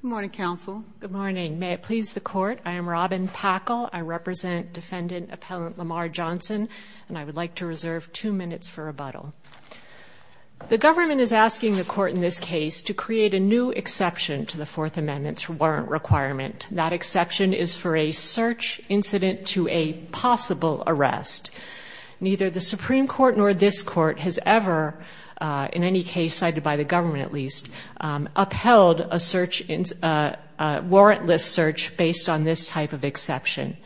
Good morning, counsel. Good morning. May it please the court. I am Robin Packall. I represent defendant appellant Lamar Johnson And I would like to reserve two minutes for rebuttal The government is asking the court in this case to create a new exception to the Fourth Amendment's warrant requirement That exception is for a search incident to a possible arrest Neither the Supreme Court nor this court has ever In any case cited by the government at least Upheld a search in warrantless search based on this type of exception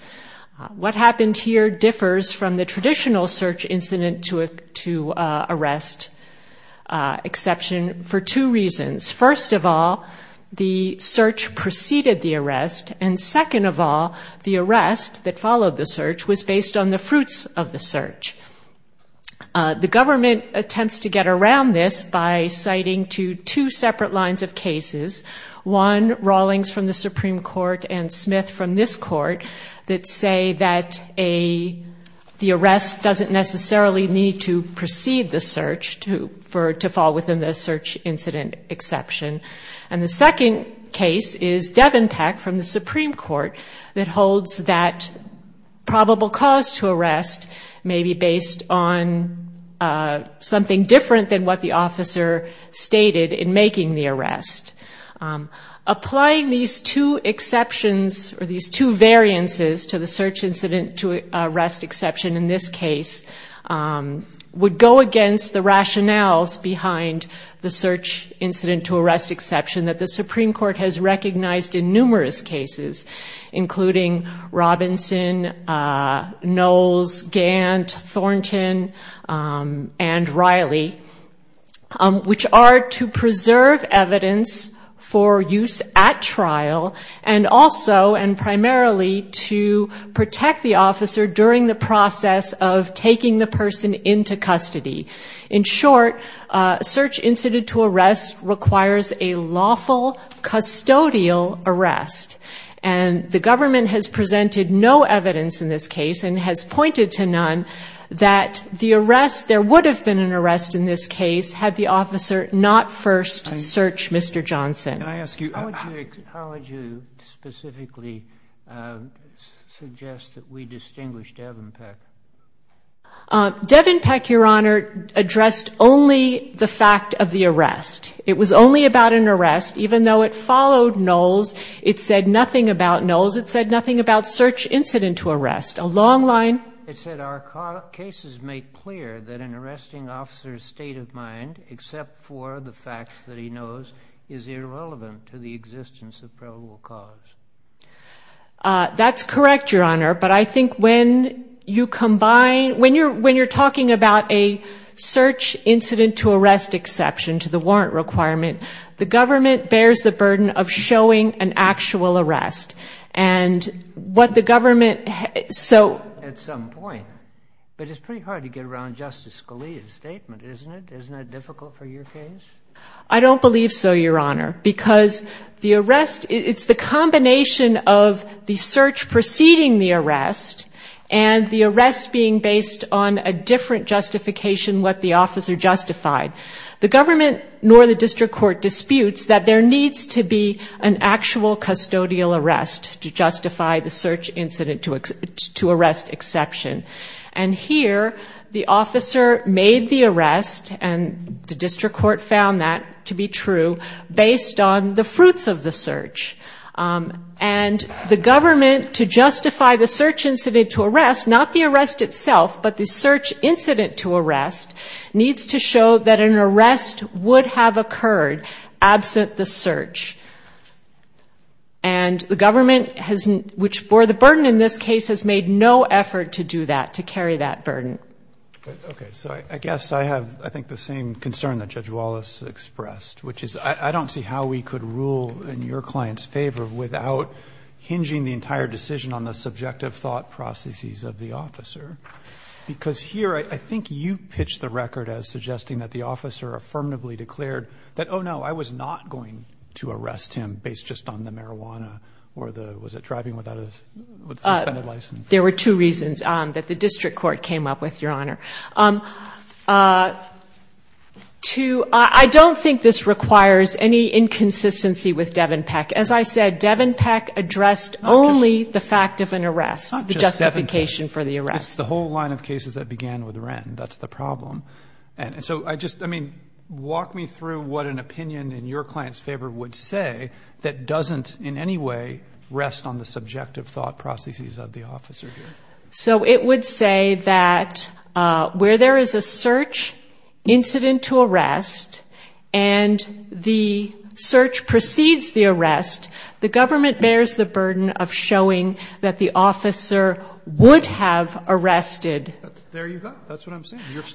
What happened here differs from the traditional search incident to a to arrest? exception for two reasons first of all the search Preceded the arrest and second of all the arrest that followed the search was based on the fruits of the search The government attempts to get around this by citing to two separate lines of cases one Rawlings from the Supreme Court and Smith from this court that say that a The arrest doesn't necessarily need to precede the search to for to fall within the search incident exception and the second case is Devin Peck from the Supreme Court that holds that Probable cause to arrest may be based on Something different than what the officer stated in making the arrest Applying these two exceptions or these two variances to the search incident to arrest exception in this case Would go against the rationales behind the search incident to arrest exception that the Supreme Court has recognized in numerous cases including Robinson Knowles Gant Thornton and Riley which are to preserve evidence for use at trial and also and primarily to Protect the officer during the process of taking the person into custody in short Search incident to arrest requires a lawful Custodial arrest and The government has presented no evidence in this case and has pointed to none That the arrest there would have been an arrest in this case had the officer not first search. Mr. Johnson. I ask you How would you specifically Suggest that we distinguish Devin Peck Devin Peck your honor addressed only the fact of the arrest It was only about an arrest even though it followed Knowles. It said nothing about Knowles It said nothing about search incident to arrest a long line It said our cases make clear that an arresting officer's state of mind Except for the facts that he knows is irrelevant to the existence of probable cause That's correct your honor, but I think when you combine when you're when you're talking about a search incident to arrest exception to the warrant requirement the government bears the burden of showing an actual arrest and What the government so at some point, but it's pretty hard to get around Justice Scalia's statement, isn't it? Difficult for your case. I don't believe so Your honor because the arrest it's the combination of the search preceding the arrest and the arrest being based on a different justification what the officer justified the government nor the district court disputes that there needs to be an actual custodial arrest to justify the search incident to To arrest exception and Here the officer made the arrest and the district court found that to be true based on the fruits of the search and The government to justify the search incident to arrest not the arrest itself but the search incident to arrest needs to show that an arrest would have occurred absent the search and The government hasn't which bore the burden in this case has made no effort to do that to carry that burden Okay, so I guess I have I think the same concern that judge Wallace expressed which is I don't see how we could rule in your clients favor without Hinging the entire decision on the subjective thought processes of the officer Because here I think you pitched the record as suggesting that the officer affirmatively declared that oh, no I was not going to arrest him based just on the marijuana or the was it driving without us There were two reasons that the district court came up with your honor To I don't think this requires any Inconsistency with Devin Peck as I said Devin Peck addressed only the fact of an arrest the justification for the arrest It's the whole line of cases that began with rent. That's the problem And so I just I mean walk me through what an opinion in your clients favor would say that doesn't in any way Rest on the subjective thought processes of the officer here. So it would say that Where there is a search? incident to arrest and The search precedes the arrest the government bears the burden of showing that the officer Would have arrested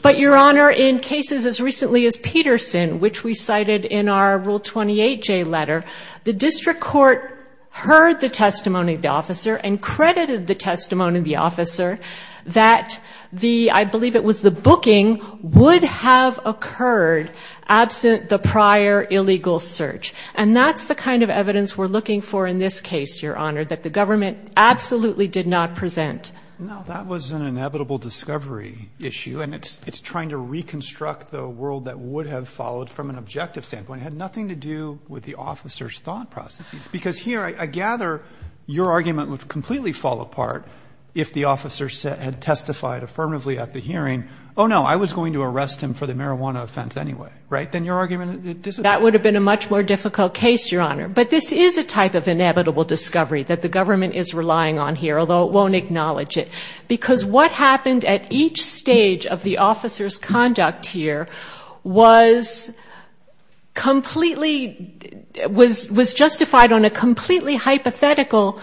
But your honor in cases as recently as Peterson which we cited in our rule 28 J letter the district court Heard the testimony of the officer and credited the testimony of the officer that the I believe it was the booking Would have occurred Absent the prior illegal search and that's the kind of evidence we're looking for in this case your honor that the government Absolutely did not present Issue and it's it's trying to reconstruct the world that would have followed from an objective standpoint had nothing to do with the officers thought Processes because here I gather Your argument would completely fall apart if the officer said had testified affirmatively at the hearing Oh, no, I was going to arrest him for the marijuana offense Anyway, right then your argument that would have been a much more difficult case your honor But this is a type of inevitable discovery that the government is relying on here Although it won't acknowledge it because what happened at each stage of the officers conduct here was Completely Was was justified on a completely hypothetical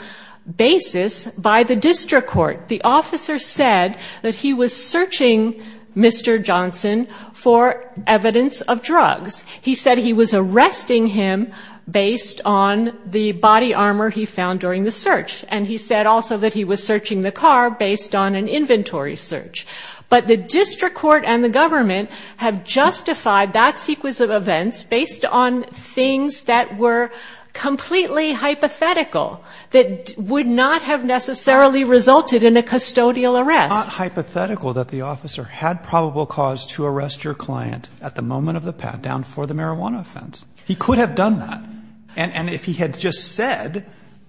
Basis by the district court the officer said that he was searching Mr. Johnson for evidence of drugs. He said he was arresting him based on The body armor he found during the search and he said also that he was searching the car based on an inventory search but the district court and the government have justified that sequence of events based on things that were completely hypothetical That would not have necessarily resulted in a custodial arrest Hypothetical that the officer had probable cause to arrest your client at the moment of the pat-down for the marijuana offense He could have done that and and if he had just said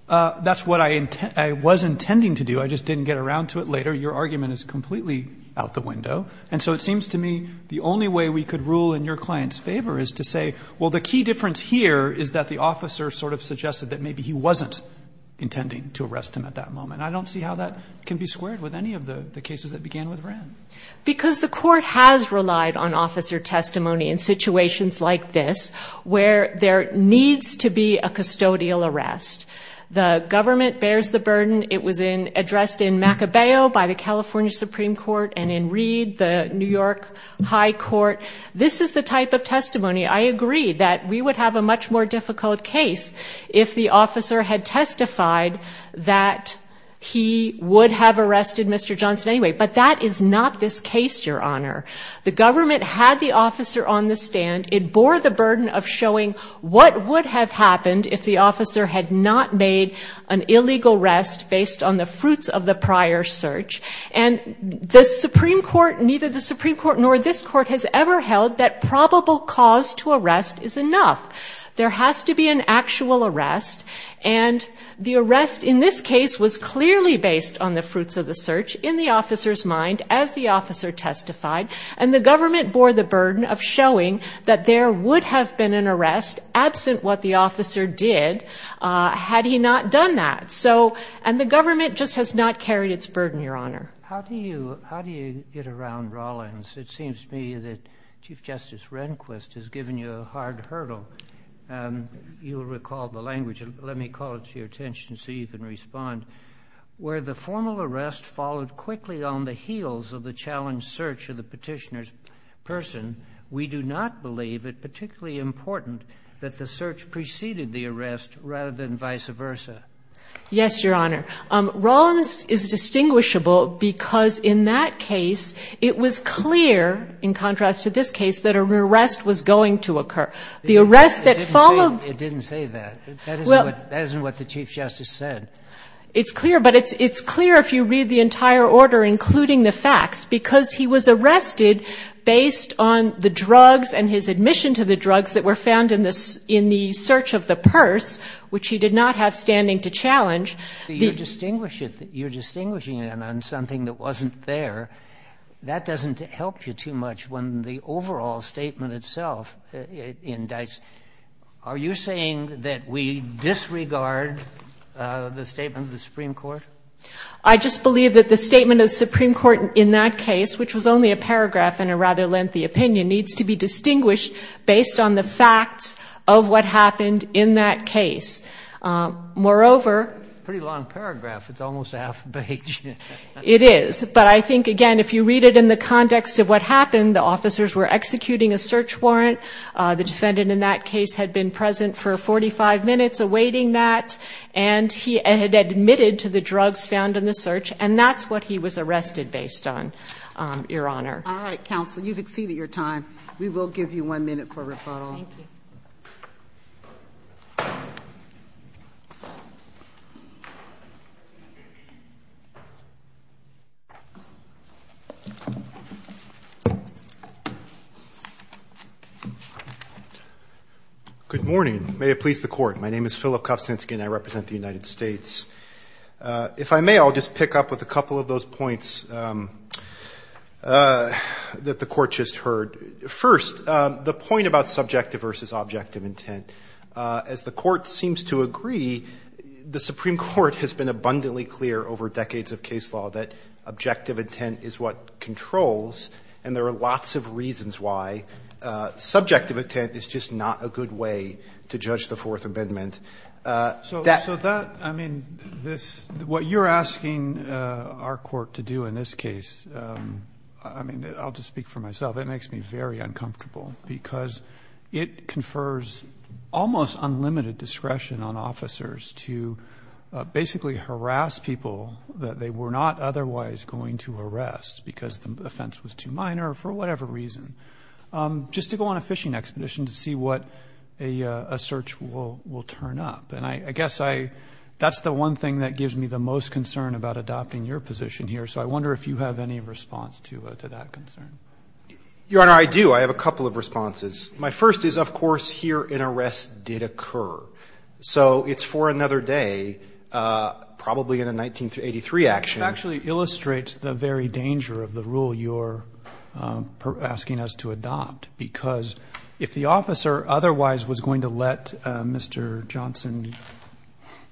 That's what I intend. I was intending to do. I just didn't get around to it later Your argument is completely out the window And so it seems to me the only way we could rule in your clients favor is to say well the key difference here Is that the officer sort of suggested that maybe he wasn't Intending to arrest him at that moment I don't see how that can be squared with any of the cases that began with ran Because the court has relied on officer testimony in situations like this where there needs to be a custodial arrest The government bears the burden it was in addressed in Maccabeo by the California Supreme Court and in Reed the New York High Court, this is the type of testimony I agree that we would have a much more difficult case if the officer had testified that He would have arrested mr. Johnson anyway But that is not this case your honor the government had the officer on the stand it bore the burden of showing what would have happened if the officer had not made an illegal rest based on the fruits of the prior search and The Supreme Court neither the Supreme Court nor this court has ever held that probable cause to arrest is enough there has to be an actual arrest and The arrest in this case was clearly based on the fruits of the search in the officers mind as the officer Testified and the government bore the burden of showing that there would have been an arrest absent what the officer did Had he not done that so and the government just has not carried its burden your honor How do you how do you get around Rawlins? It seems to me that Chief Justice Rehnquist has given you a hard hurdle You'll recall the language let me call it to your attention so you can respond Where the formal arrest followed quickly on the heels of the challenge search of the petitioner's person We do not believe it particularly important that the search preceded the arrest rather than vice versa Yes, your honor Rawlins is Distinguishable because in that case it was clear in contrast to this case that a rear rest was going to occur The arrest that followed it didn't say that well, that isn't what the Chief Justice said It's clear, but it's it's clear if you read the entire order including the facts because he was arrested Based on the drugs and his admission to the drugs that were found in this in the search of the purse Which he did not have standing to challenge the distinguish it that you're distinguishing it on something that wasn't there That doesn't help you too much when the overall statement itself Indicts, are you saying that we disregard? The statement of the Supreme Court. I just believe that the statement of the Supreme Court in that case Which was only a paragraph in a rather lengthy opinion needs to be distinguished based on the facts of what happened in that case Moreover pretty long paragraph. It's almost half a page It is but I think again if you read it in the context of what happened the officers were executing a search warrant the defendant in that case had been present for 45 minutes awaiting that and He had admitted to the drugs found in the search and that's what he was arrested based on Your honor. All right counsel. You've exceeded your time. We will give you one minute for a rebuttal Good Morning may it please the court. My name is Philip Kovac inskin. I represent the United States If I may I'll just pick up with a couple of those points That the court just heard first the point about subjective versus objective intent as the court seems to agree The Supreme Court has been abundantly clear over decades of case law that objective intent is what controls and there are lots of reasons Why? Subjective intent is just not a good way to judge the Fourth Amendment So that I mean this what you're asking our court to do in this case I mean, I'll just speak for myself It makes me very uncomfortable because it confers almost unlimited discretion on officers to Basically harass people that they were not otherwise going to arrest because the offense was too minor for whatever reason just to go on a fishing expedition to see what a Search will will turn up and I guess I that's the one thing that gives me the most concern about adopting your position here So I wonder if you have any response to that concern Your honor I do I have a couple of responses. My first is of course here in arrest did occur. So it's for another day Probably in a 1983 action actually illustrates the very danger of the rule you're Asking us to adopt because if the officer otherwise was going to let mr. Johnson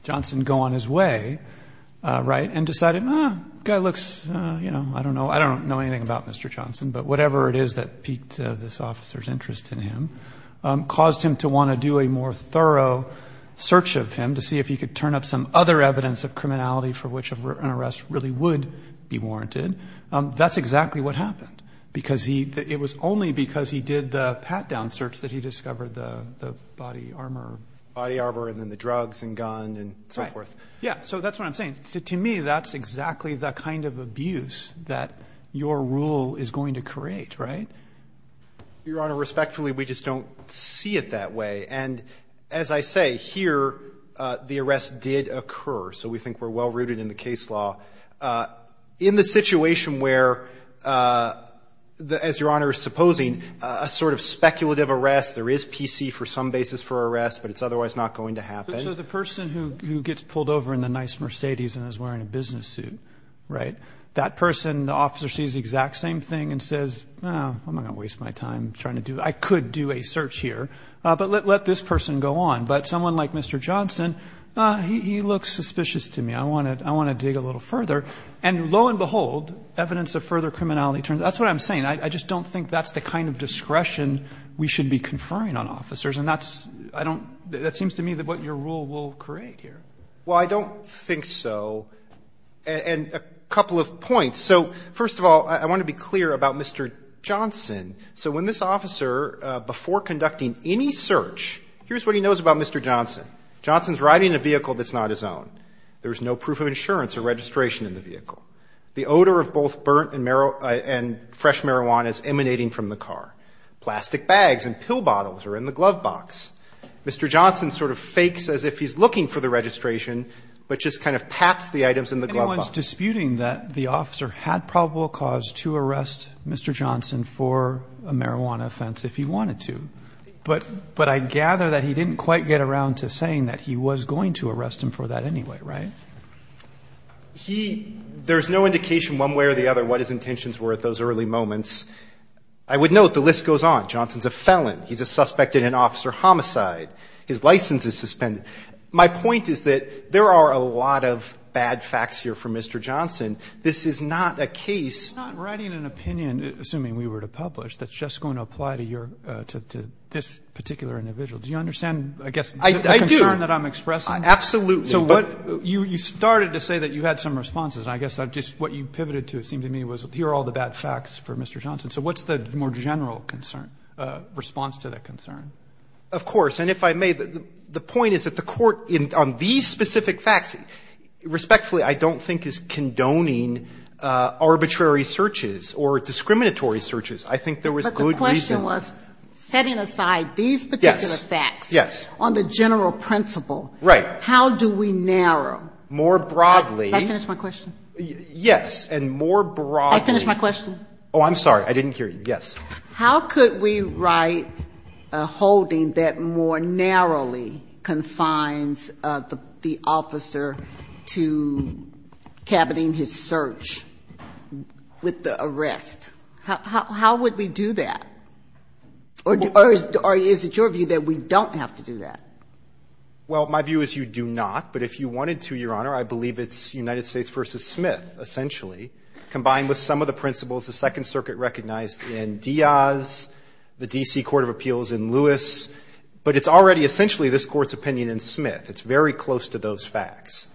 Johnson go on his way Right and decided mom guy looks, you know, I don't know. I don't know anything about mr Johnson, but whatever it is that peaked this officer's interest in him Caused him to want to do a more thorough Search of him to see if he could turn up some other evidence of criminality for which of an arrest really would be warranted That's exactly what happened because he it was only because he did the pat-down search that he discovered the body armor Body arbor and then the drugs and gun and so forth. Yeah, so that's what I'm saying To me that's exactly the kind of abuse that your rule is going to create right Your honor respectfully. We just don't see it that way and as I say here The arrest did occur. So we think we're well rooted in the case law in the situation where The as your honor is supposing a sort of speculative arrest there is PC for some basis for arrest But it's otherwise not going to happen So the person who gets pulled over in the nice Mercedes and is wearing a business suit Right that person the officer sees the exact same thing and says no I'm gonna waste my time trying to do I could do a search here, but let this person go on but someone like mr Johnson, uh, he looks suspicious to me I want to I want to dig a little further and lo and behold evidence of further criminality turns. That's what I'm saying I just don't think that's the kind of discretion we should be conferring on officers And that's I don't that seems to me that what your rule will create here. Well, I don't think so And a couple of points. So first of all, I want to be clear about mr. Johnson So when this officer before conducting any search, here's what he knows about. Mr. Johnson Johnson's riding a vehicle. That's not his own There's no proof of insurance or registration in the vehicle The odor of both burnt and marrow and fresh marijuana is emanating from the car Plastic bags and pill bottles are in the glove box Mr. Johnson sort of fakes as if he's looking for the registration But just kind of pats the items in the glove ones disputing that the officer had probable cause to arrest Mr. Johnson for a marijuana offense if he wanted to But but I gather that he didn't quite get around to saying that he was going to arrest him for that anyway, right? He there's no indication one way or the other what his intentions were at those early moments I would note the list goes on Johnson's a felon. He's a suspect in an officer homicide His license is suspended. My point is that there are a lot of bad facts here for mr. Johnson This is not a case Assuming we were to publish that's just going to apply to your to this particular individual. Do you understand? I guess I Absolutely, so what you you started to say that you had some responses and I guess I've just what you pivoted to it seemed to Me was here all the bad facts for mr. Johnson. So what's the more general concern? Response to that concern, of course, and if I made the point is that the court in on these specific facts Respectfully, I don't think is condoning Arbitrary searches or discriminatory searches. I think there was a good question was setting aside these Yes on the general principle, right? How do we narrow more broadly? My question yes and more broad finish my question. Oh, I'm sorry. I didn't hear you. Yes. How could we write a holding that more narrowly confines the officer to cabinet in his search With the arrest, how would we do that? Or is it your view that we don't have to do that? Well, my view is you do not but if you wanted to your honor I believe it's United States versus Smith essentially combined with some of the principles the Second Circuit recognized in Diaz The DC Court of Appeals in Lewis, but it's already essentially this court's opinion in Smith. It's very close to those facts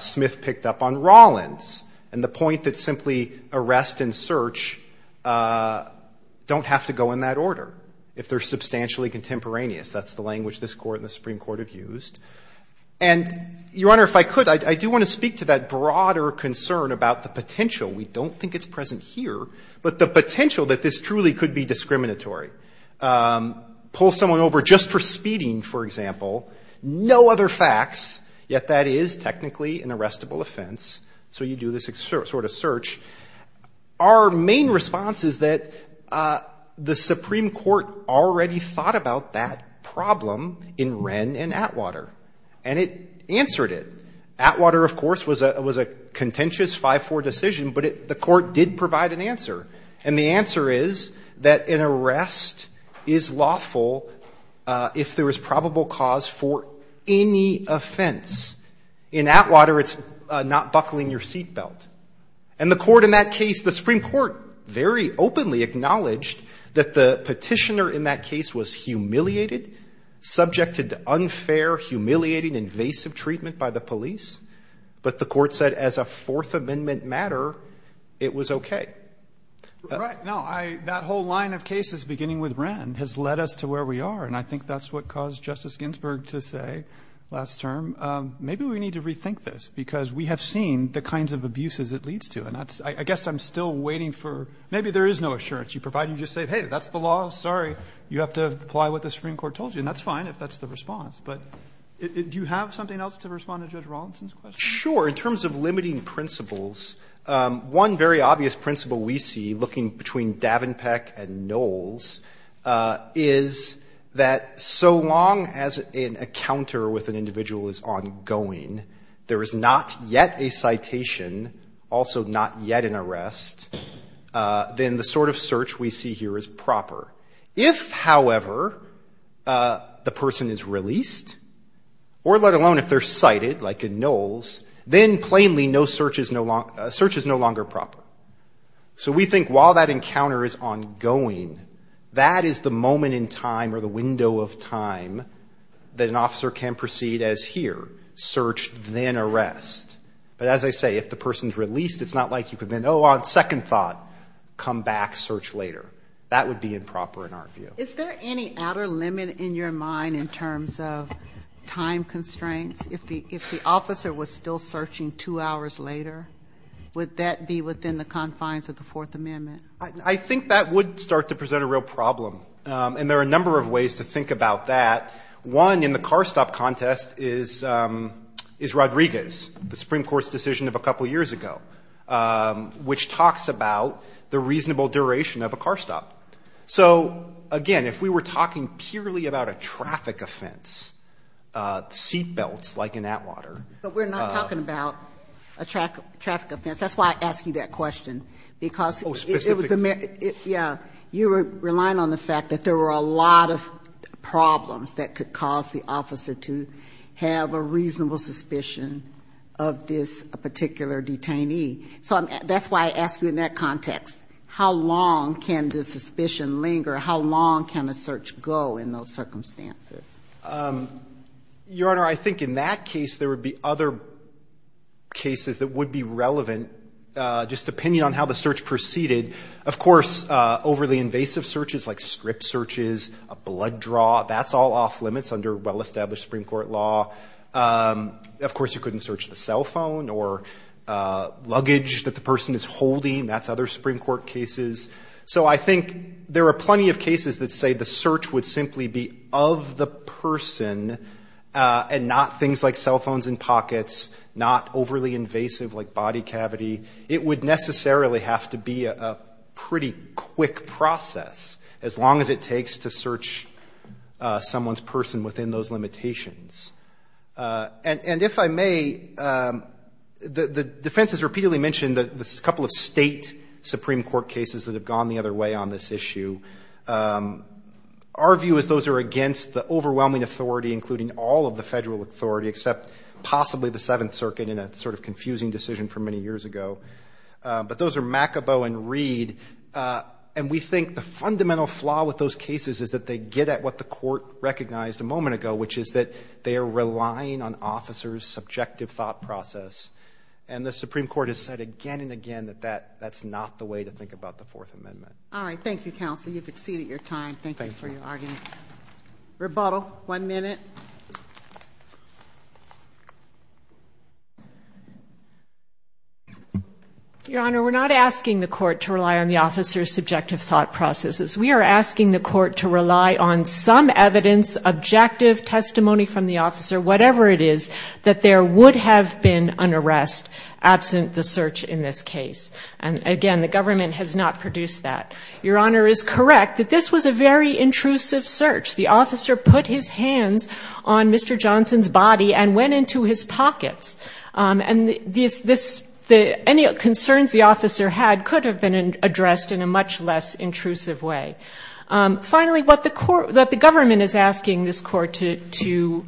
Smith picked up on Rollins and the point that simply arrest and search Don't have to go in that order if they're substantially contemporaneous, that's the language this court in the Supreme Court have used and Your honor if I could I do want to speak to that broader concern about the potential We don't think it's present here, but the potential that this truly could be discriminatory Pull someone over just for speeding for example, no other facts yet. That is technically an arrestable offense So you do this excerpt sort of search? Our main response is that the Supreme Court already thought about that problem in Wren and Atwater and it Answered it Atwater. Of course was a was a contentious 5-4 decision But it the court did provide an answer and the answer is that an arrest is lawful If there was probable cause for any offense in Atwater It's not buckling your seatbelt and the court in that case the Supreme Court very openly Acknowledged that the petitioner in that case was humiliated Subjected to unfair humiliating invasive treatment by the police But the court said as a Fourth Amendment matter it was okay No, I that whole line of cases beginning with Wren has led us to where we are And I think that's what caused Justice Ginsburg to say last term Maybe we need to rethink this because we have seen the kinds of abuses it leads to and that's I guess I'm still waiting for Maybe there is no assurance you provide you just say hey, that's the law Sorry, you have to apply what the Supreme Court told you and that's fine If that's the response, but it do you have something else to respond to judge Rawlinson's question? Sure in terms of limiting principles One very obvious principle we see looking between Davenpeck and Knowles is That so long as in a counter with an individual is ongoing There is not yet a citation Also, not yet an arrest Then the sort of search we see here is proper if however The person is released Or let alone if they're cited like in Knowles then plainly no search is no long search is no longer proper So we think while that encounter is on going that is the moment in time or the window of time That an officer can proceed as here search then arrest But as I say if the person's released, it's not like you could then Oh on second thought Come back search later. That would be improper in our view. Is there any outer limit in your mind in terms of Time constraints if the if the officer was still searching two hours later Would that be within the confines of the Fourth Amendment I think that would start to present a real problem and there are a number of ways to think about that one in the car stop contest is Is Rodriguez the Supreme Court's decision of a couple years ago? Which talks about the reasonable duration of a car stop. So again if we were talking purely about a traffic offense Seat belts like in Atwater, but we're not talking about a track traffic offense. That's why I asked you that question because Yeah, you were relying on the fact that there were a lot of problems that could cause the officer to have a reasonable suspicion of This particular detainee. So that's why I asked you in that context. How long can the suspicion linger? How long can a search go in those circumstances? Your honor, I think in that case there would be other Cases that would be relevant just depending on how the search proceeded Of course overly invasive searches like strip searches a blood draw. That's all off-limits under well-established Supreme Court law Of course, you couldn't search the cell phone or Luggage that the person is holding that's other Supreme Court cases So, I think there are plenty of cases that say the search would simply be of the person And not things like cell phones and pockets not overly invasive like body cavity It would necessarily have to be a pretty quick process as long as it takes to search someone's person within those limitations and and if I may The the defense has repeatedly mentioned that this couple of state Supreme Court cases that have gone the other way on this issue Our view is those are against the overwhelming authority including all of the federal authority except Possibly the Seventh Circuit in a sort of confusing decision for many years ago But those are McAboe and Reed And we think the fundamental flaw with those cases is that they get at what the court recognized a moment ago Which is that they are relying on officers subjective thought process and the Supreme Court has said again and again that that that's not The way to think about the Fourth Amendment. All right. Thank you counsel. You've exceeded your time. Thank you for your argument rebuttal one minute Your honor we're not asking the court to rely on the officers subjective thought processes We are asking the court to rely on some evidence Objective testimony from the officer, whatever it is that there would have been an arrest Absent the search in this case and again, the government has not produced that your honor is correct that this was a very intrusive Search the officer put his hands on mr. Johnson's body and went into his pockets And this this the any concerns the officer had could have been addressed in a much less intrusive way finally, but the court that the government is asking this court to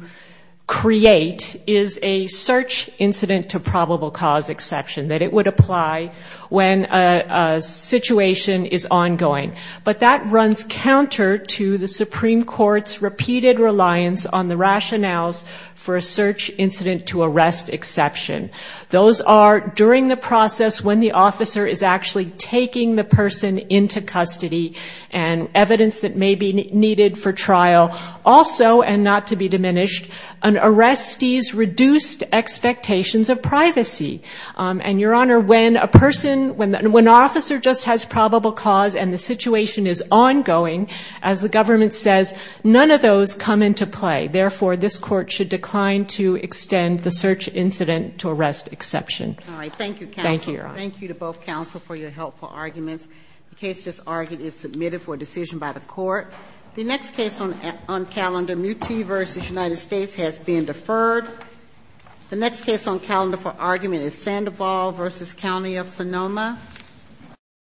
create is a search incident to probable cause exception that it would apply when a Situation is ongoing but that runs counter to the Supreme Court's repeated reliance on the rationales for a search incident to arrest exception those are during the process when the officer is actually taking the person into custody and Evidence that may be needed for trial also and not to be diminished an arrest ease reduced expectations of privacy and your honor when a person when when officer just has probable cause and the situation is ongoing as the government says None of those come into play. Therefore this court should decline to extend the search incident to arrest exception All right. Thank you. Thank you. Thank you to both counsel for your helpful arguments The case just argued is submitted for a decision by the court the next case on on calendar muti versus United States has been deferred The next case on calendar for argument is Sandoval versus County of Sonoma